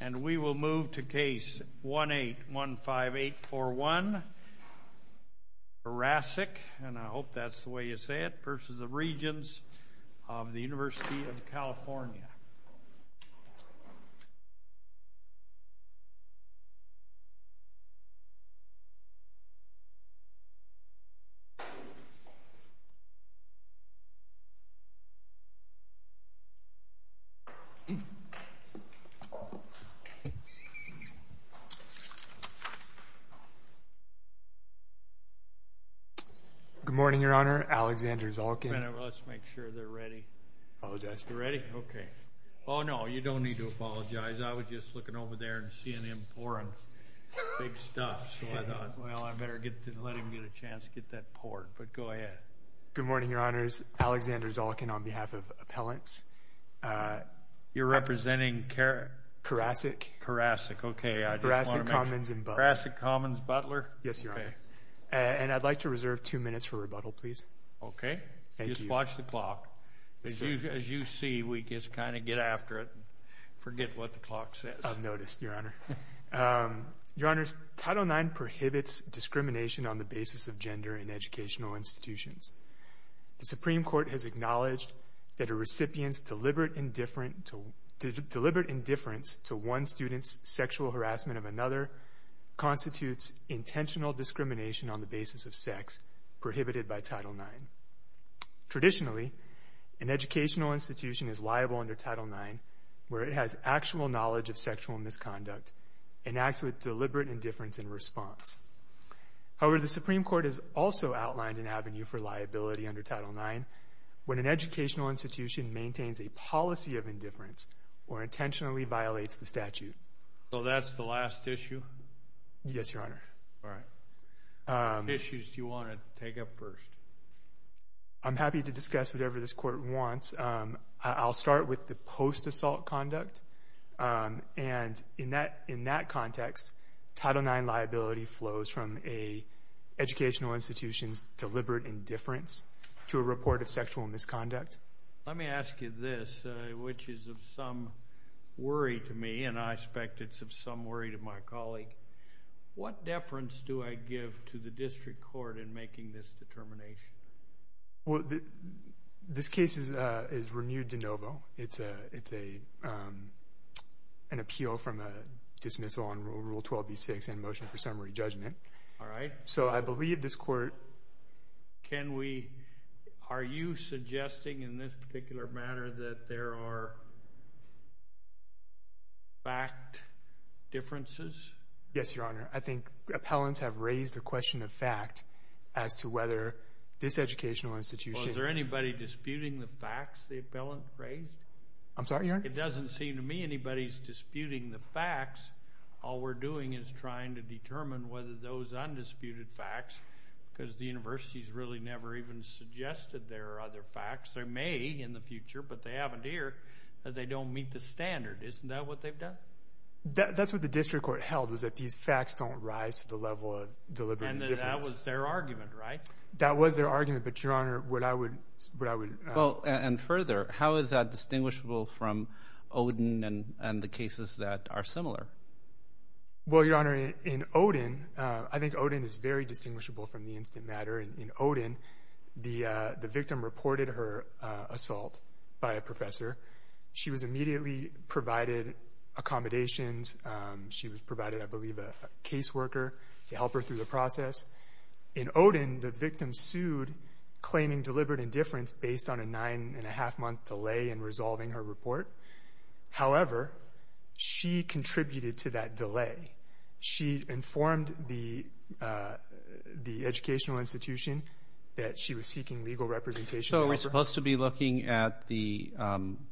And we will move to case 1815841, Karasek, and I hope that's the way you say it, versus the Regents of the University of California. Good morning, Your Honor. Alexander Zolkin on behalf of Appellants. You're representing Karasek? Karasek, okay. Karasek Commons and Butler. Karasek Commons and Butler. Yes, Your Honor. And I'd like to reserve two minutes for rebuttal, please. Okay. Thank you. Just watch the clock. As you see, we just kind of get after it, forget what the clock says. I've noticed, Your Honor. Your Honors, Title IX prohibits discrimination on the basis of gender in educational institutions. The Supreme Court has acknowledged that a recipient's deliberate indifference to one student's sexual harassment of another constitutes intentional discrimination on the basis of sex prohibited by Title IX. Traditionally, an educational institution is liable under Title IX where it has actual knowledge of sexual misconduct and acts with deliberate indifference in response. However, the Supreme Court has also outlined an avenue for liability under Title IX when an educational institution maintains a policy of indifference or intentionally violates the statute. So, that's the last issue? Yes, Your Honor. All right. What issues do you want to take up first? I'm happy to discuss whatever this Court wants. I'll start with conduct. And in that context, Title IX liability flows from an educational institution's deliberate indifference to a report of sexual misconduct. Let me ask you this, which is of some worry to me, and I expect it's of some worry to my colleague. What deference do I give to an appeal from a dismissal on Rule 12b-6 and a motion for summary judgment? All right. So, I believe this Court... Can we... Are you suggesting in this particular matter that there are fact differences? Yes, Your Honor. I think appellants have raised the question of fact as to whether this educational institution... Was there anybody disputing the facts the whole time? I'm sorry, Your Honor? It doesn't seem to me anybody's disputing the facts. All we're doing is trying to determine whether those undisputed facts, because the university's really never even suggested there are other facts. There may in the future, but they haven't here, that they don't meet the standard. Isn't that what they've done? That's what the district court held, was that these facts don't rise to the level of deliberate indifference. And that that was their argument, right? That was their argument. But, Your Honor, what I would... And further, how is that distinguishable from Odin and the cases that are similar? Well, Your Honor, in Odin, I think Odin is very distinguishable from the instant matter. In Odin, the victim reported her assault by a professor. She was immediately provided accommodations. She was provided, I believe, a caseworker to help her through the process. In Odin, the victim sued, claiming deliberate indifference based on a nine-and-a-half-month delay in resolving her report. However, she contributed to that delay. She informed the educational institution that she was seeking legal representation. So are we supposed to be looking at the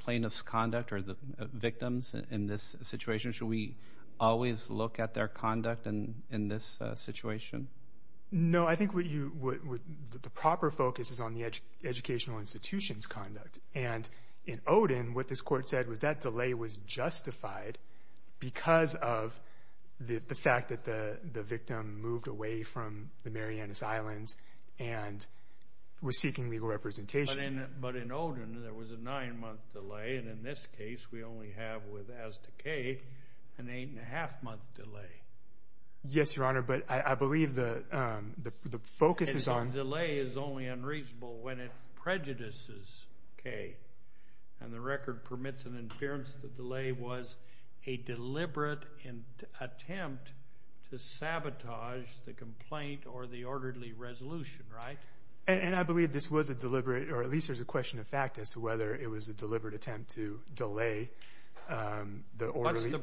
plaintiff's conduct or the victims in this situation? Should we always look at their conduct in this situation? No. I think what you... The proper focus is on the educational institution's conduct. And in Odin, what this court said was that delay was justified because of the fact that the victim moved away from the Marianas Islands and was seeking legal representation. But in Odin, there was a nine-month delay. And in this case, we only have, with Aztecay, an eight-and-a-half-month delay. Yes, Your Honor, but I believe the focus is on... The delay is only unreasonable when it prejudices Kay. And the record permits an inference that the delay was a deliberate attempt to sabotage the complaint or the orderly resolution, right? And I believe this was a deliberate, or at least there's a question of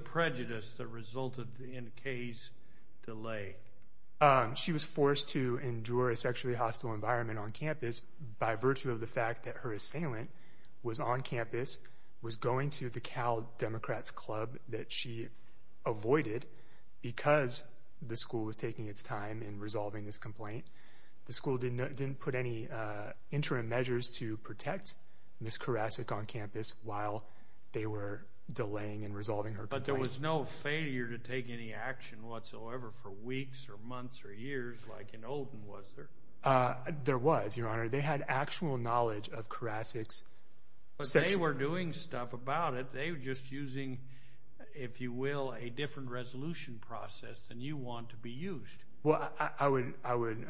prejudice that resulted in Kay's delay. She was forced to endure a sexually hostile environment on campus by virtue of the fact that her assailant was on campus, was going to the Cal Democrats Club that she avoided because the school was taking its time in resolving this complaint. The school didn't put any interim measures to protect Ms. Karasik on campus while they were delaying and resolving her complaint. But there was no failure to take any action whatsoever for weeks or months or years like in Odin, was there? There was, Your Honor. They had actual knowledge of Karasik's sexual... But they were doing stuff about it. They were just using, if you will, a different resolution process than you want to be used. Well, I would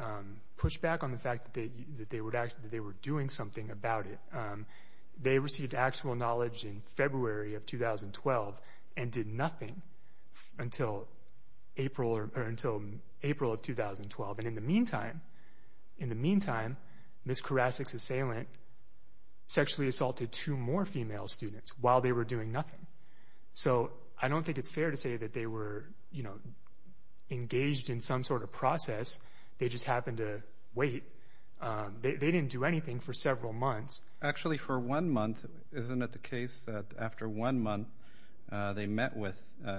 push back on the fact that they were doing something about it. They received actual knowledge in February of 2012 and did nothing until April of 2012. And in the meantime, Ms. Karasik's assailant sexually assaulted two more female students while they were doing nothing. So I don't think it's fair to say that they were engaged in some sort of process. They just happened to wait. They didn't do anything for several months. Actually, for one month, isn't it the case that after one month, they met with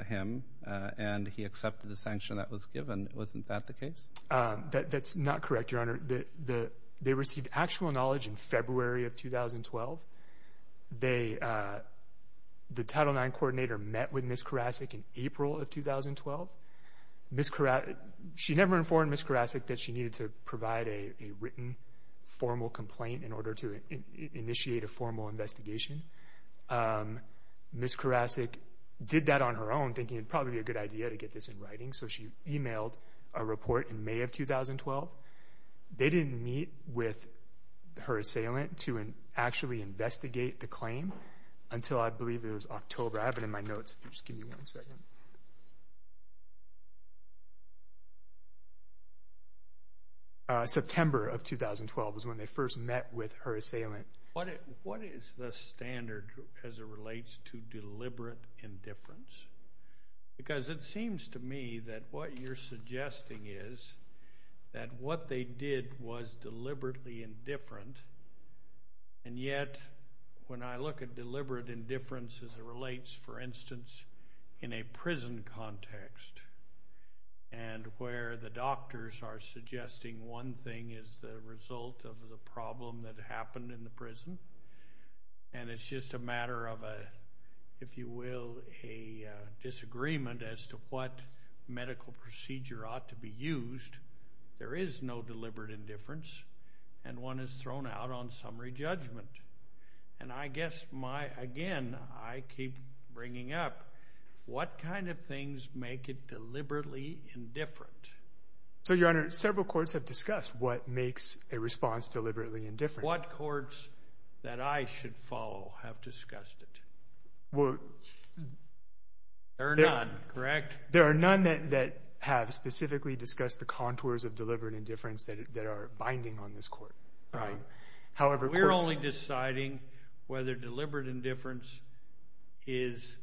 him and he accepted the sanction that was given? Wasn't that the case? That's not correct, Your Honor. They received actual knowledge in February of 2012. The Title IX coordinator met with Ms. Karasik in April of 2012. She never informed Ms. Karasik that she needed to provide a written formal complaint in order to Ms. Karasik did that on her own, thinking it'd probably be a good idea to get this in writing. So she emailed a report in May of 2012. They didn't meet with her assailant to actually investigate the claim until, I believe, it was October. I have it in my notes. September of 2012 was when they first met with her assailant. What is the standard as it relates to deliberate indifference? It seems to me that what you're suggesting is that what they did was deliberately indifferent. Yet, when I look at deliberate indifference as it relates, for instance, in a prison context where the doctors are suggesting one thing is the result of the problem that happened in the prison, and it's just a matter of a, if you will, a disagreement as to what medical procedure ought to be used, there is no deliberate indifference, and one is thrown out on summary judgment. And I guess, again, I keep bringing up, what kind of things make it deliberately indifferent? So, Your Honor, several courts have discussed what makes a response deliberately indifferent. What courts that I should follow have discussed it? There are none, correct? There are none that have specifically discussed the contours of deliberate indifference that are binding on this court. However, courts... We're only deciding whether deliberate indifference is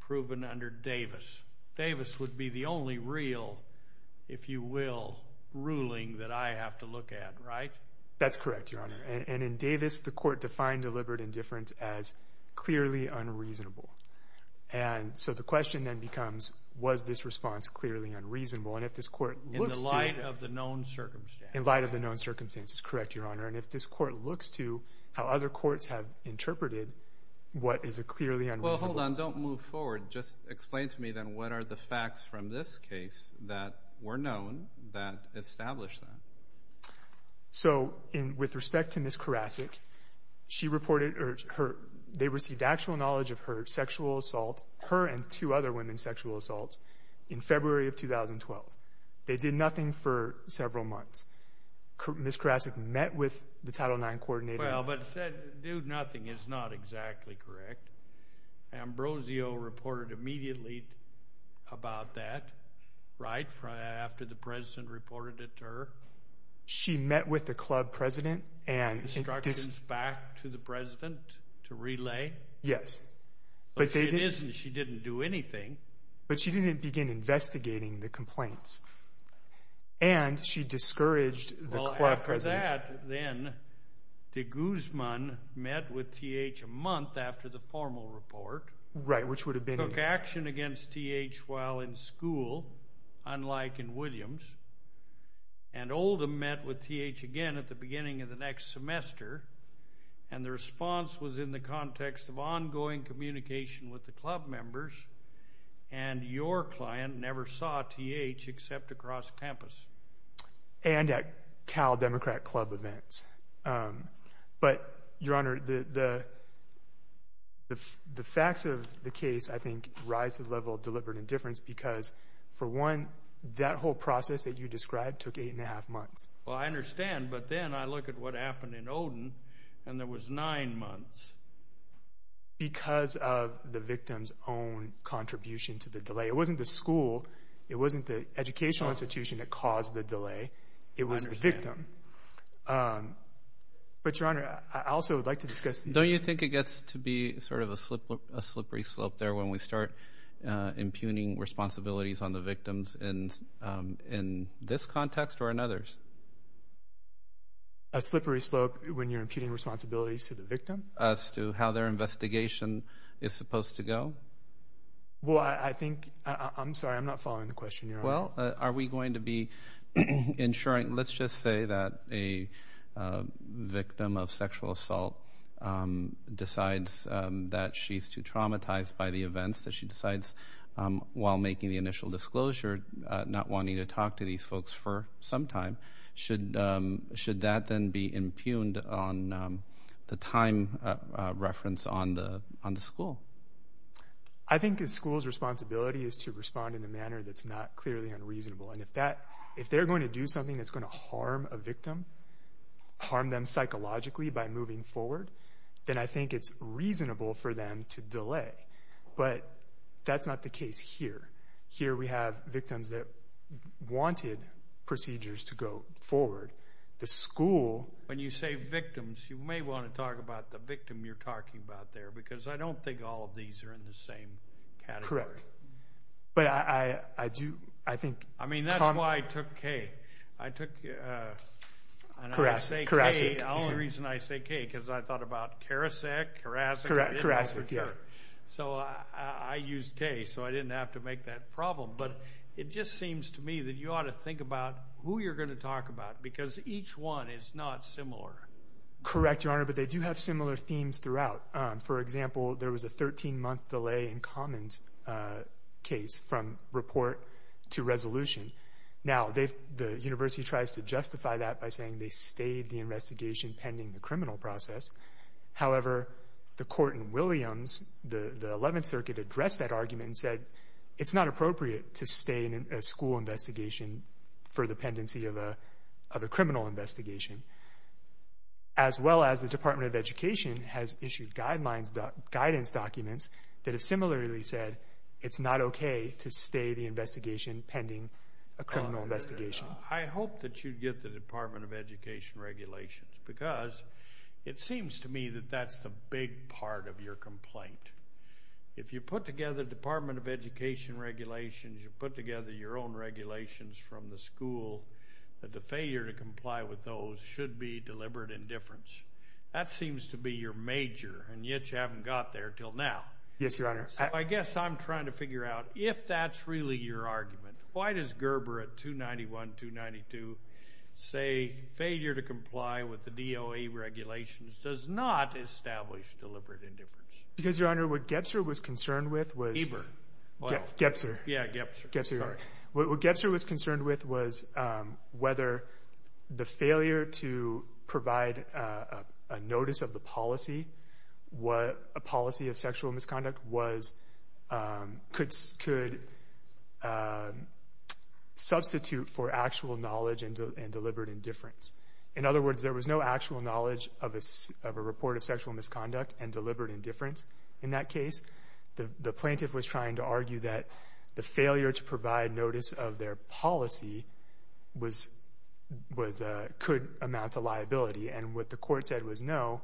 proven under Davis. Davis would be the only real, if you will, ruling that I have to look at, right? That's correct, Your Honor. And in Davis, the court defined deliberate indifference as clearly unreasonable. And so the question then becomes, was this response clearly unreasonable? And if this court looks to... In the light of the known circumstances. In light of the known circumstances, correct, Your Honor. And if this court looks to how other courts have interpreted what is a clearly unreasonable... Well, hold on. Don't move forward. Just explain to me, then, what are the facts from this case that were known that established that? So, with respect to Ms. Karasik, she reported, or they received actual knowledge of her sexual assault, her and two other women's sexual assaults, in February of 2012. They did nothing for several months. Ms. Karasik met with the Title IX coordinator... Dude, nothing is not exactly correct. Ambrosio reported immediately about that, right? After the President reported it to her? She met with the club president and... Instructions back to the President to relay? Yes. But they didn't... She didn't do anything. But she didn't begin investigating the complaints. And she discouraged the club president. Then, de Guzman met with T.H. a month after the formal report... Right. Which would have been... Took action against T.H. while in school, unlike in Williams. And Oldham met with T.H. again at the beginning of the next semester. And the response was in the context of ongoing communication with the club members. And your client never saw T.H. except across campus. And at Cal Democrat Club events. But, Your Honor, the facts of the case, I think, rise to the level of deliberate indifference because, for one, that whole process that you described took eight and a half months. Well, I understand. But then I look at what happened in Oldham, and there was nine months. Because of the victim's own contribution to the delay. It wasn't the school. It wasn't educational institution that caused the delay. It was the victim. But, Your Honor, I also would like to discuss... Don't you think it gets to be sort of a slippery slope there when we start impugning responsibilities on the victims in this context or in others? A slippery slope when you're impugning responsibilities to the victim? As to how their investigation is supposed to go? Well, I think... I'm sorry. I'm not following the question, Your Honor. Well, are we going to be ensuring... Let's just say that a victim of sexual assault decides that she's too traumatized by the events. That she decides, while making the initial disclosure, not wanting to talk to these folks for some time. Should that then be impugned on the time reference on the school? I think the school's responsibility is to respond in a manner that's not clearly unreasonable. And if they're going to do something that's going to harm a victim, harm them psychologically by moving forward, then I think it's reasonable for them to delay. But that's not the case here. Here we have When you say victims, you may want to talk about the victim you're talking about there, because I don't think all of these are in the same category. Correct. But I do... I think... I mean, that's why I took K. I took... The only reason I say K, because I thought about Karasek, Karasek. Correct. Karasek, yeah. So I used K, so I didn't have to make that problem. But it just seems to me that you think about who you're going to talk about, because each one is not similar. Correct, Your Honor, but they do have similar themes throughout. For example, there was a 13-month delay in Common's case from report to resolution. Now, the university tries to justify that by saying they stayed the investigation pending the criminal process. However, the court in Williams, the 11th Circuit, addressed that argument and said, it's not appropriate to stay in a school investigation for the pendency of a criminal investigation, as well as the Department of Education has issued guidelines, guidance documents that have similarly said, it's not okay to stay the investigation pending a criminal investigation. I hope that you get the Department of Education regulations, because it seems to me that that's the big part of your complaint. If you put together Department of Education regulations, you put together your own regulations from the school, that the failure to comply with those should be deliberate indifference. That seems to be your major, and yet you haven't got there till now. Yes, Your Honor. I guess I'm trying to figure out if that's really your argument. Why does Gerber at 291, 292 say failure to comply with the DOA regulations does not establish deliberate indifference? Because, Your Honor, what Gebser was concerned with was whether the failure to provide a notice of the policy of sexual misconduct could substitute for actual knowledge and deliberate indifference. In other words, there was no actual knowledge of a report of sexual misconduct and deliberate indifference in that case. The plaintiff was trying to argue that the failure to provide notice of their policy could amount to liability. And what the court said was no,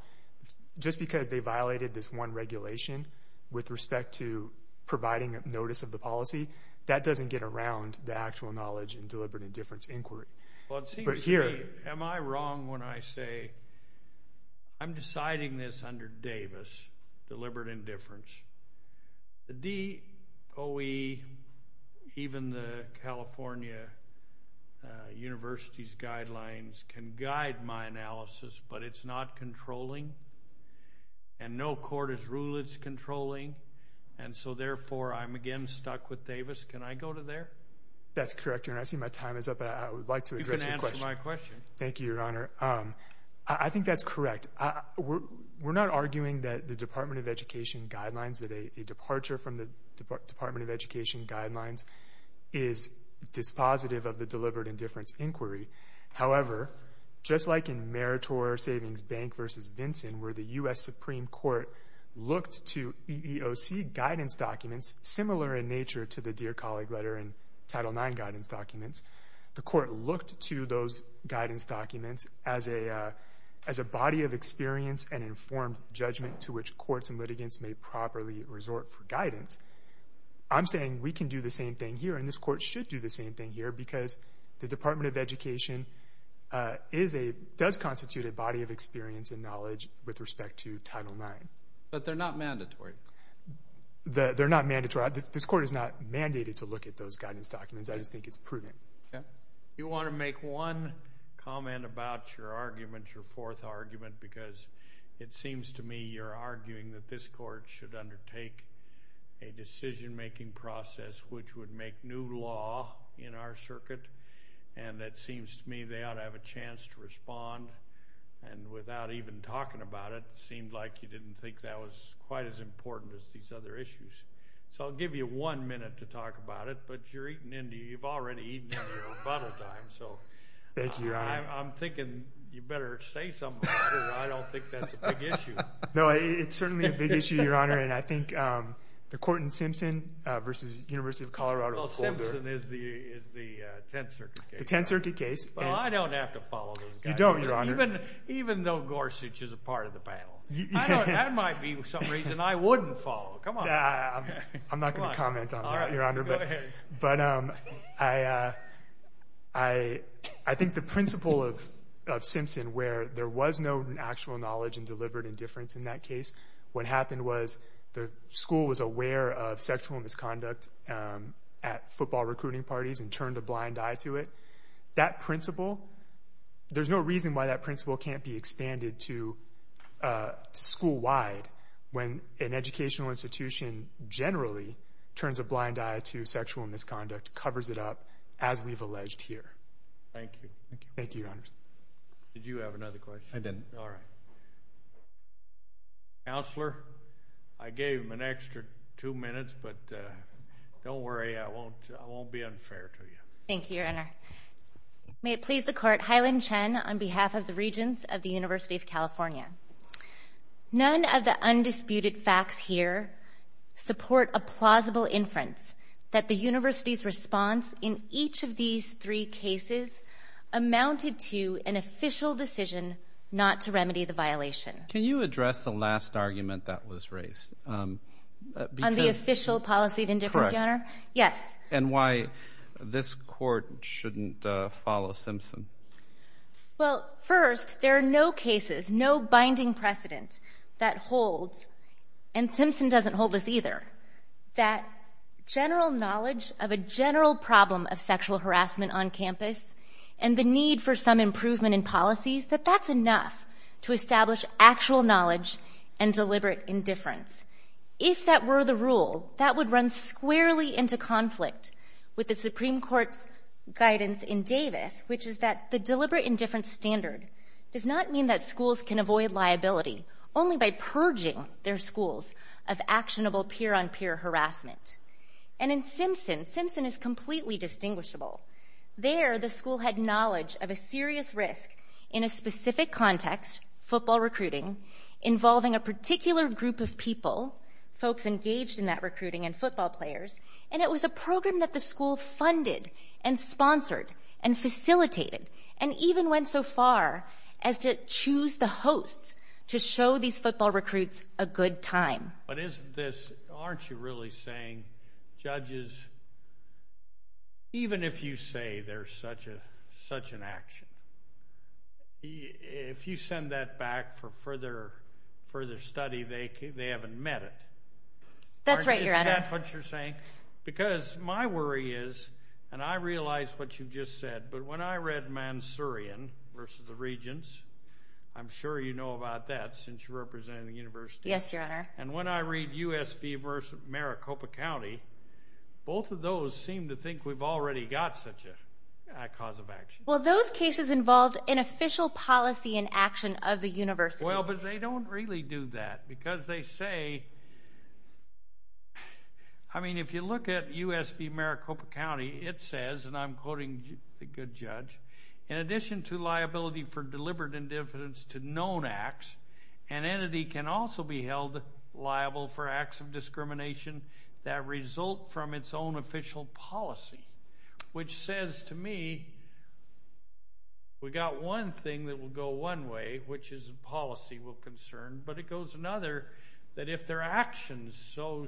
just because they violated this one regulation with respect to providing notice of the policy, that doesn't get around the actual knowledge and deliberate indifference inquiry. Well, it seems to me, am I wrong when I say I'm deciding this under Davis, deliberate indifference? The DOE, even the California University's guidelines can guide my analysis, but it's not controlling, and no court has ruled it's controlling. And so, therefore, I'm again stuck with Davis. Can I go to there? That's correct, Your Honor. I see my time is up, but I would like to address your question. You can answer my question. Thank you, Your Honor. I think that's correct. We're not arguing that the Department of Education guidelines, that a departure from the Department of Education guidelines is dispositive of the deliberate indifference inquiry. However, just like in Meritor Savings Bank v. Vinson, where the U.S. Supreme Court looked to EEOC guidance documents similar in nature to the Dear Colleague letter and Title IX guidance documents, the court looked to those guidance documents as a body of experience and informed judgment to which courts and litigants may properly resort for guidance. I'm saying we can do the same thing here, and this court should do the same thing here because the Department of Education does constitute a body of experience and knowledge with respect to Title IX. But they're not mandatory. They're not mandatory. This court is not mandated to look at those guidance documents. I just think it's prudent. You want to make one comment about your argument, your fourth argument, because it seems to me you're arguing that this court should undertake a decision-making process which would make new law in our circuit. And it seems to me they ought to have a chance to respond. And without even talking about it, it seemed like you didn't think that was quite as important as these other issues. So I'll give you one minute to talk about it. But you've already eaten into your rebuttal time. So I'm thinking you better say something about it. I don't think that's a big issue. No, it's certainly a big issue, Your Honor. And I think the Corton-Simpson v. University of Colorado. Well, Simpson is the 10th Circuit case. The 10th Circuit case. Well, I don't have to follow those guys. You don't, Your Honor. Even though Gorsuch is a part of the panel. That might be some reason I wouldn't follow. No, I'm not going to comment on that, Your Honor. But I think the principle of Simpson where there was no actual knowledge and deliberate indifference in that case, what happened was the school was aware of sexual misconduct at football recruiting parties and turned a blind eye to it. That principle, there's no reason why that principle can't be expanded to school-wide when an educational institution generally turns a blind eye to sexual misconduct, covers it up, as we've alleged here. Thank you. Thank you, Your Honor. Did you have another question? I didn't. All right. Counselor, I gave him an extra two minutes, but don't worry. I won't be unfair to you. Thank you, Your Honor. May it please the Court. Hylin Chen on behalf of the Regents of the University of California. None of the undisputed facts here support a plausible inference that the university's response in each of these three cases amounted to an official decision not to remedy the violation. Can you address the last argument that was raised? On the official policy of indifference, Your Honor? Correct. Yes. And why this Court shouldn't follow Simpson? Well, first, there are no cases, no binding precedent that holds, and Simpson doesn't hold this either, that general knowledge of a general problem of sexual harassment on campus and the need for some improvement in policies, that that's enough to establish actual knowledge and deliberate indifference. If that were the rule, that would run squarely into conflict with the Supreme Court's guidance in Davis, which is that the deliberate indifference standard does not mean that schools can avoid liability only by purging their schools of actionable peer-on-peer harassment. And in Simpson, Simpson is completely distinguishable. There, the school had knowledge of a serious risk in a specific context, football recruiting, involving a particular group of people, folks engaged in that recruiting, and football players, and it was a program that the school funded and sponsored and facilitated and even went so far as to choose the host to show these football recruits a good time. But isn't this, aren't you really saying, judges, even if you say there's such an action, if you send that back for further study, they haven't met it. That's right, Your Honor. Isn't that what you're saying? Because my worry is, and I realize what you just said, but when I read Mansourian versus the Regents, I'm sure you know about that since you're representing the university. Yes, Your Honor. And when I read U.S. v. Maricopa County, both of those seem to think we've already got such a cause of action. Well, those cases involved an official policy and action of the university. But they don't really do that because they say, I mean, if you look at U.S. v. Maricopa County, it says, and I'm quoting the good judge, in addition to liability for deliberate indifference to known acts, an entity can also be held liable for acts of discrimination that result from its own official policy, which says to me, we've got one thing that will go one way, which is a policy we're concerned, but it goes another, that if their actions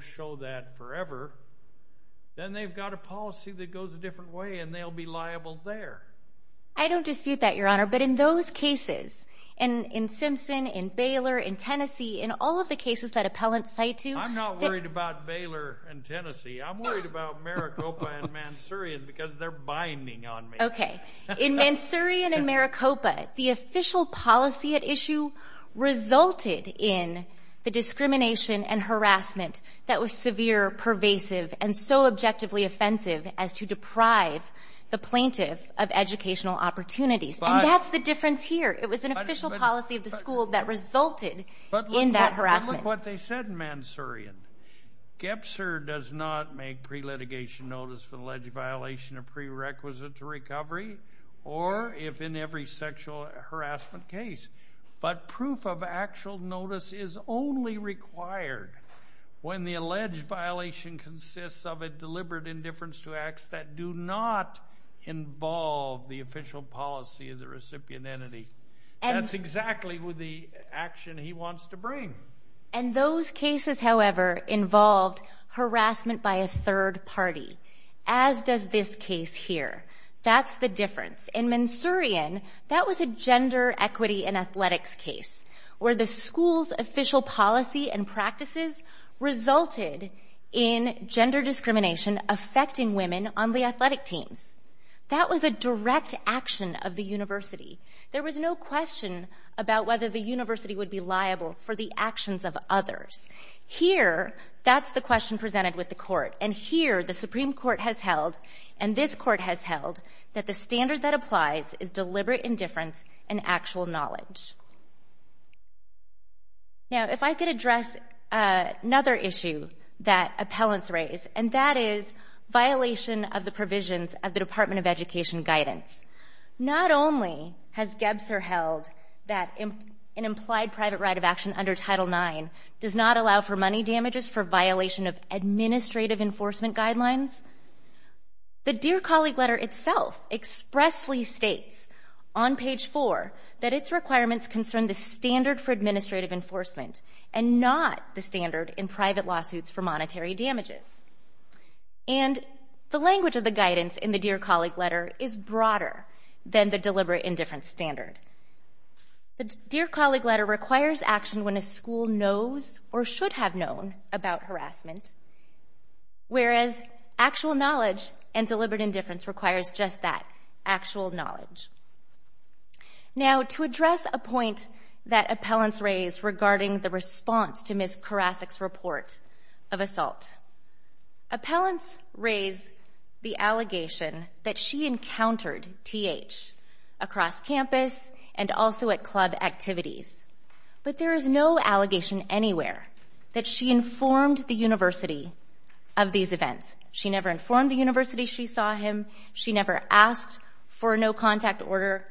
show that forever, then they've got a policy that goes a different way, and they'll be liable there. I don't dispute that, Your Honor. But in those cases, in Simpson, in Baylor, in Tennessee, in all of the cases that appellants cite to— I'm not worried about Baylor and Tennessee. I'm worried about Maricopa and Mansourian because they're binding on me. Okay. In Mansourian and Maricopa, the official policy at issue resulted in the discrimination and harassment that was severe, pervasive, and so objectively offensive as to deprive the plaintiff of educational opportunities. And that's the difference here. It was an official policy of the school that resulted in that harassment. Look what they said in Mansourian. Gebser does not make pre-litigation notice for the alleged violation of prerequisite to recovery, or if in every sexual harassment case. But proof of actual notice is only required when the alleged violation consists of a deliberate indifference to acts that do not involve the official policy of the recipient entity. And— That's exactly the action he wants to bring. And those cases, however, involved harassment by a third party, as does this case here. That's the difference. In Mansourian, that was a gender equity and athletics case where the school's official policy and practices resulted in gender discrimination affecting women on the athletic teams. That was a direct action of the university. There was no question about whether the university would be liable for the actions of others. Here, that's the question presented with the court. And here, the Supreme Court has held, and this court has held, that the standard that applies is deliberate indifference and actual knowledge. Now, if I could address another issue that appellants raise, and that is violation of the provisions of the Department of Education guidance. Not only has Gebser held that an implied private right of action under Title IX does not allow for money damages for violation of administrative enforcement guidelines, the Dear Colleague letter itself expressly states on page 4 that its requirements concern the standard for administrative enforcement and not the standard in private lawsuits for monetary damages. And the language of the guidance in the Dear Colleague letter is broader than the deliberate indifference standard. The Dear Colleague letter requires action when a school knows or should have known about harassment, whereas actual knowledge and deliberate indifference requires just that, actual knowledge. Now, to address a point that appellants raise regarding the response to Ms. Karasik's report of assault, appellants raise the allegation that she encountered TH across campus and also at club activities. But there is no allegation anywhere that she informed the university of these events. She never informed the university she saw him. She never asked for a no-contact order.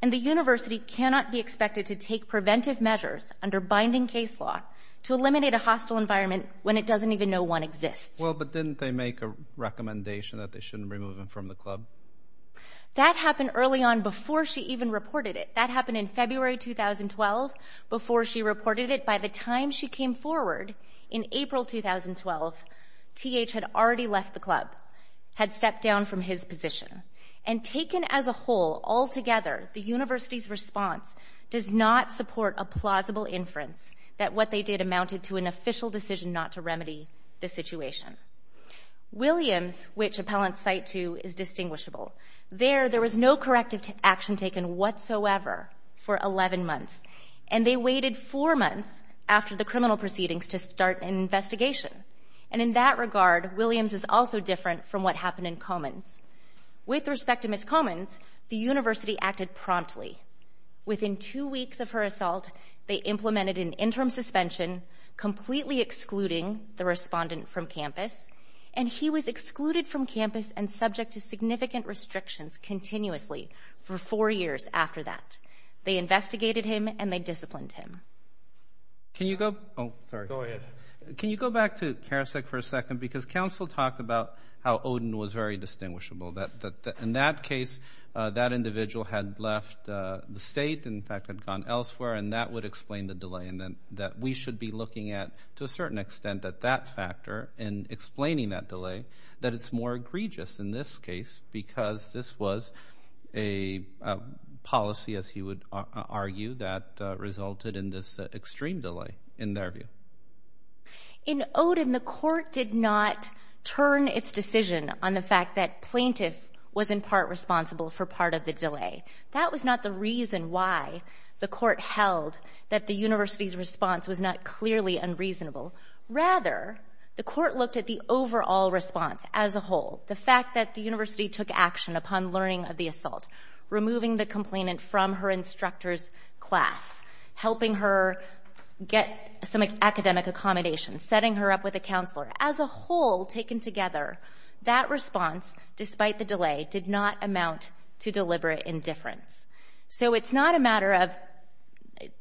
And the university cannot be expected to take preventive measures under binding case law to eliminate a hostile environment when it doesn't even know one exists. Well, but didn't they make a recommendation that they shouldn't remove him from the club? That happened early on before she even reported it. That happened in February 2012, before she reported it. By the time she came forward in April 2012, TH had already left the club, had stepped down from his position. And taken as a whole, altogether, the university's response does not support a plausible inference that what they did amounted to an official decision not to remedy the situation. Williams, which appellants cite to, is distinguishable. There, there was no corrective action taken whatsoever for 11 months. And they waited four months after the criminal proceedings to start an investigation. And in that regard, Williams is also different from what happened in Comins. With respect to Ms. Comins, the university acted promptly. Within two weeks of her assault, they implemented an interim suspension, completely excluding the respondent from campus. And he was excluded from campus and subject to significant restrictions continuously for four years after that. They investigated him and they disciplined him. Can you go, oh, sorry. Go ahead. Can you go back to Karasek for a second? Because counsel talked about how Odin was very distinguishable. In that case, that individual had left the state and, in fact, had gone elsewhere. And that would explain the delay. And that we should be looking at, to a certain extent, at that factor and explaining that delay, that it's more egregious in this case because this was a policy, as he would argue, that resulted in this extreme delay, in their view. In Odin, the court did not turn its decision on the fact that plaintiff was in part responsible for part of the delay. That was not the reason why the court held that the university's response was not clearly unreasonable. Rather, the court looked at the overall response as a whole, the fact that the university took action upon learning of the assault, removing the complainant from her instructor's class, helping her get some academic accommodations, setting her up with a counselor. As a whole, taken together, that response, despite the delay, did not amount to deliberate indifference. So it's not a matter of,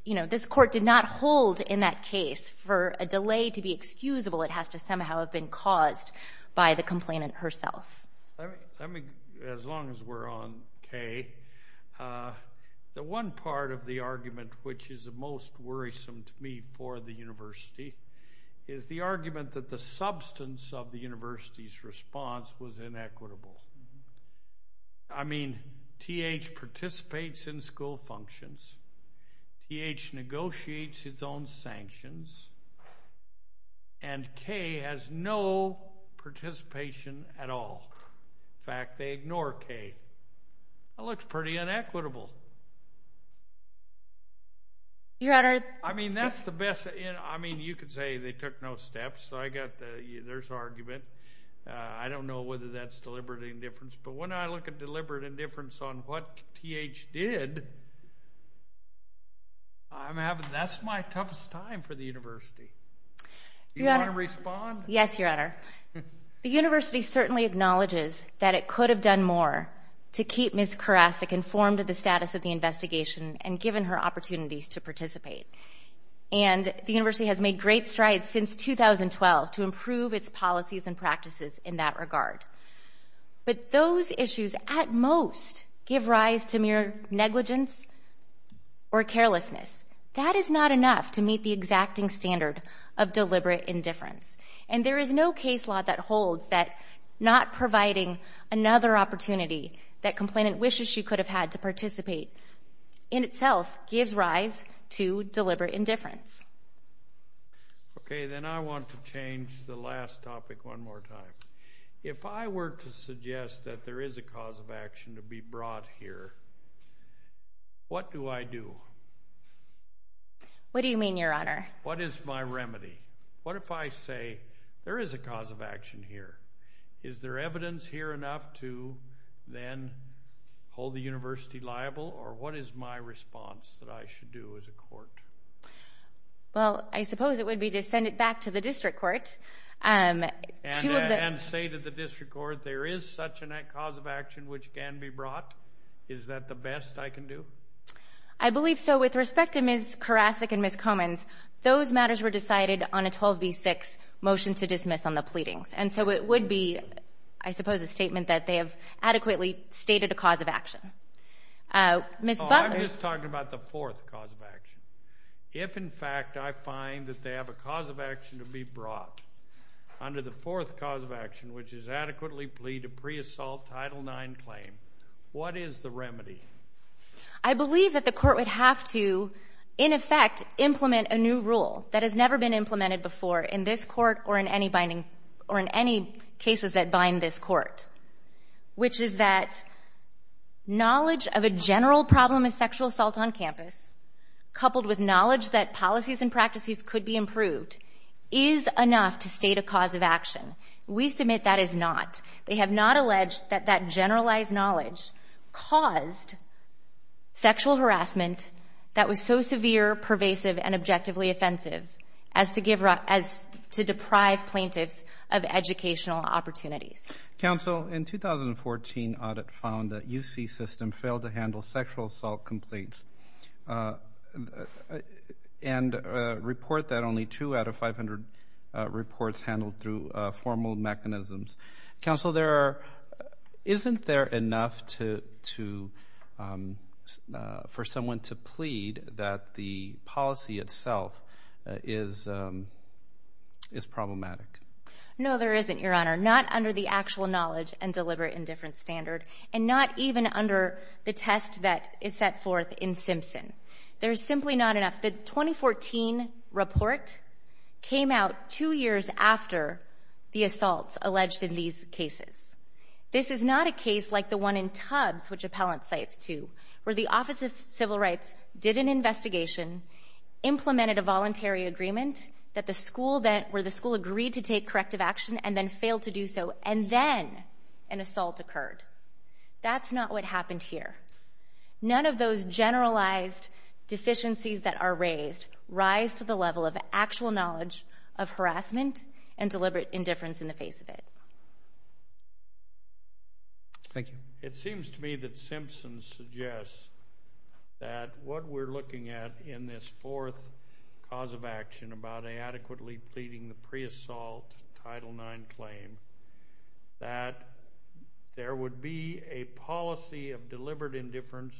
you know, this court did not hold in that case for a delay to be excusable. It has to somehow have been caused by the complainant herself. Let me, as long as we're on Kay, the one part of the argument which is the most worrisome to me for the university is the argument that the substance of the university's response was inequitable. I mean, T.H. participates in school functions, T.H. In fact, they ignore Kay. That looks pretty inequitable. Your Honor. I mean, that's the best. I mean, you could say they took no steps. So I got the, there's argument. I don't know whether that's deliberate indifference. But when I look at deliberate indifference on what T.H. did, I'm having, that's my toughest time for the university. You want to respond? Yes, Your Honor. The university certainly acknowledges that it could have done more to keep Ms. Karasik informed of the status of the investigation and given her opportunities to participate. And the university has made great strides since 2012 to improve its policies and practices in that regard. But those issues at most give rise to mere negligence or carelessness. That is not enough to meet the exacting standard of deliberate indifference. And there is no case law that holds that not providing another opportunity that complainant wishes she could have had to participate in itself gives rise to deliberate indifference. Okay. Then I want to change the last topic one more time. If I were to suggest that there is a cause of action to be brought here, what do I do? What do you mean, Your Honor? What is my remedy? What if I say there is a cause of action here? Is there evidence here enough to then hold the university liable? Or what is my response that I should do as a court? Well, I suppose it would be to send it back to the district court. And say to the district court, there is such a cause of action which can be brought. Is that the best I can do? I believe so. With respect to Ms. Karasik and Ms. Comins, those matters were decided on a 12b6 motion to dismiss on the pleadings. And so it would be, I suppose, a statement that they have adequately stated a cause of action. Ms. Butler. I'm just talking about the fourth cause of action. If, in fact, I find that they have a cause of action to be brought under the fourth cause of action, which is adequately plead to pre-assault Title IX claim, what is the remedy? I believe that the court would have to, in effect, implement a new rule that has never been implemented before in this court or in any cases that bind this court, which is that knowledge of a general problem of sexual assault on campus, coupled with knowledge that policies and practices could be improved, is enough to state a cause of action. We submit that is not. They have not alleged that that generalized knowledge caused sexual harassment that was so severe, pervasive, and objectively offensive as to deprive plaintiffs of educational opportunities. Counsel, in 2014, audit found that UC system failed to handle sexual assault complaints and report that only two out of 500 reports handled through formal mechanisms. Counsel, isn't there enough for someone to plead that the policy itself is problematic? No, there isn't, Your Honor. Not under the actual knowledge and deliberate and different standard, and not even under the test that is set forth in Simpson. There's simply not enough. The 2014 report came out two years after the assaults alleged in these cases. This is not a case like the one in Tubbs, which Appellant cites too, where the Office of Civil Rights did an investigation, implemented a voluntary agreement where the school agreed to take corrective action and then failed to do so, and then an assault occurred. That's not what happened here. None of those generalized deficiencies that are raised rise to the level of actual knowledge of harassment and deliberate indifference in the face of it. Thank you. It seems to me that Simpson suggests that what we're looking at in this fourth cause of action about inadequately pleading the pre-assault Title IX claim, that there would be a policy of deliberate indifference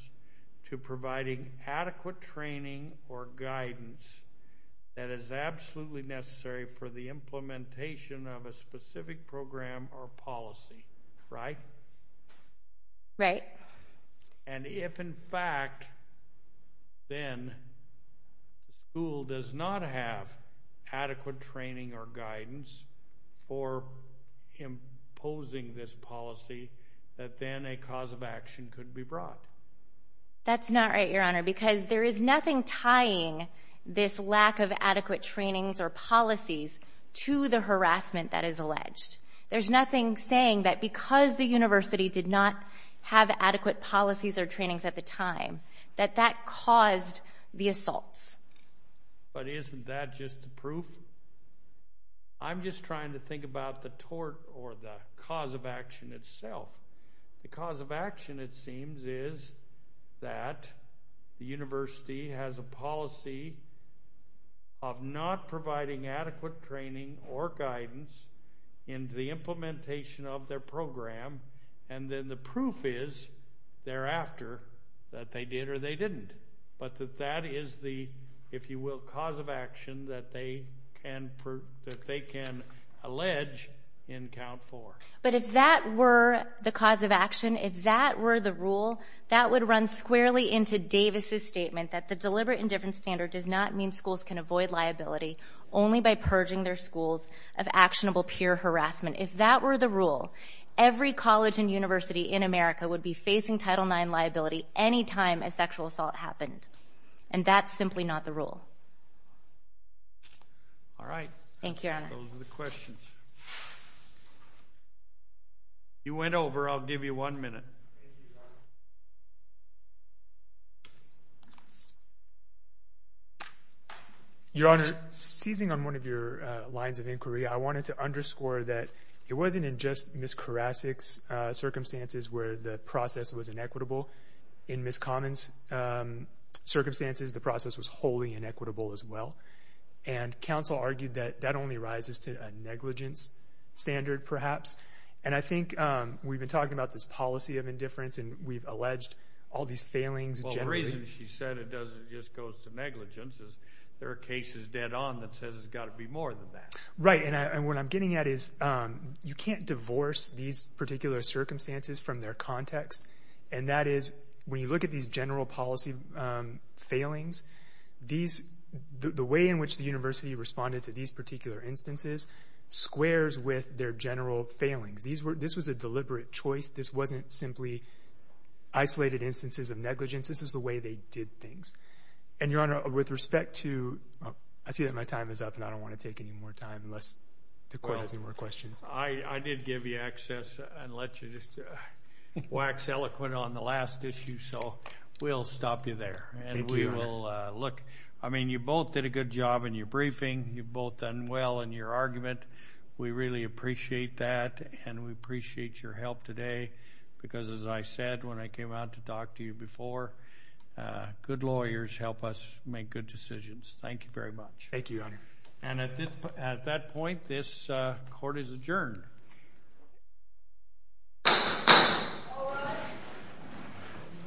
to providing adequate training or guidance that is absolutely necessary for the implementation of a specific program or policy, right? Right. And if, in fact, then the school does not have adequate training or guidance for imposing this policy, that then a cause of action could be brought. That's not right, Your Honor, because there is nothing tying this lack of adequate trainings or policies to the harassment that is alleged. There's nothing saying that because the university did not have adequate policies or trainings at the time, that that caused the assaults. But isn't that just the proof? I'm just trying to think about the tort or the cause of action itself. The cause of action, it seems, is that the university has a policy of not providing adequate training or guidance in the implementation of their program. And then the proof is thereafter that they did or they didn't. But that that is the, if you will, cause of action that they can allege in count four. But if that were the cause of action, if that were the rule, that would run squarely into Davis's statement that the deliberate indifference standard does not mean schools can avoid liability only by purging their schools of actionable peer harassment. If that were the rule, every college and university in America would be facing Title IX liability any time a sexual assault happened. And that's simply not the rule. All right. Thank you, Your Honor. Those are the questions. You went over. I'll give you one minute. Your Honor, seizing on one of your lines of inquiry, I wanted to underscore that it wasn't in just Ms. Karasik's circumstances where the process was inequitable. In Ms. Common's circumstances, the process was wholly inequitable as well. And counsel argued that that only rises to a negligence standard, perhaps. And I think we've been talking about this policy of indifference, and we've alleged all these failings. Well, the reason she said it doesn't just go to negligence is there are cases dead on that says it's got to be more than that. Right. And what I'm getting at is you can't divorce these particular circumstances from their context. And that is when you look at these general policy failings, the way in which the university responded to these particular instances squares with their general failings. This was a deliberate choice. This wasn't simply isolated instances of negligence. This is the way they did things. And, Your Honor, with respect to—oh, I see that my time is up, and I don't want to take any more time unless the court has any more questions. I did give you access and let you just wax eloquent on the last issue, so we'll stop Thank you, Your Honor. Look, I mean, you both did a good job in your briefing. You've both done well in your argument. We really appreciate that, and we appreciate your help today because, as I said when I came out to talk to you before, good lawyers help us make good decisions. Thank you very much. Thank you, Your Honor. And at that point, this court is adjourned.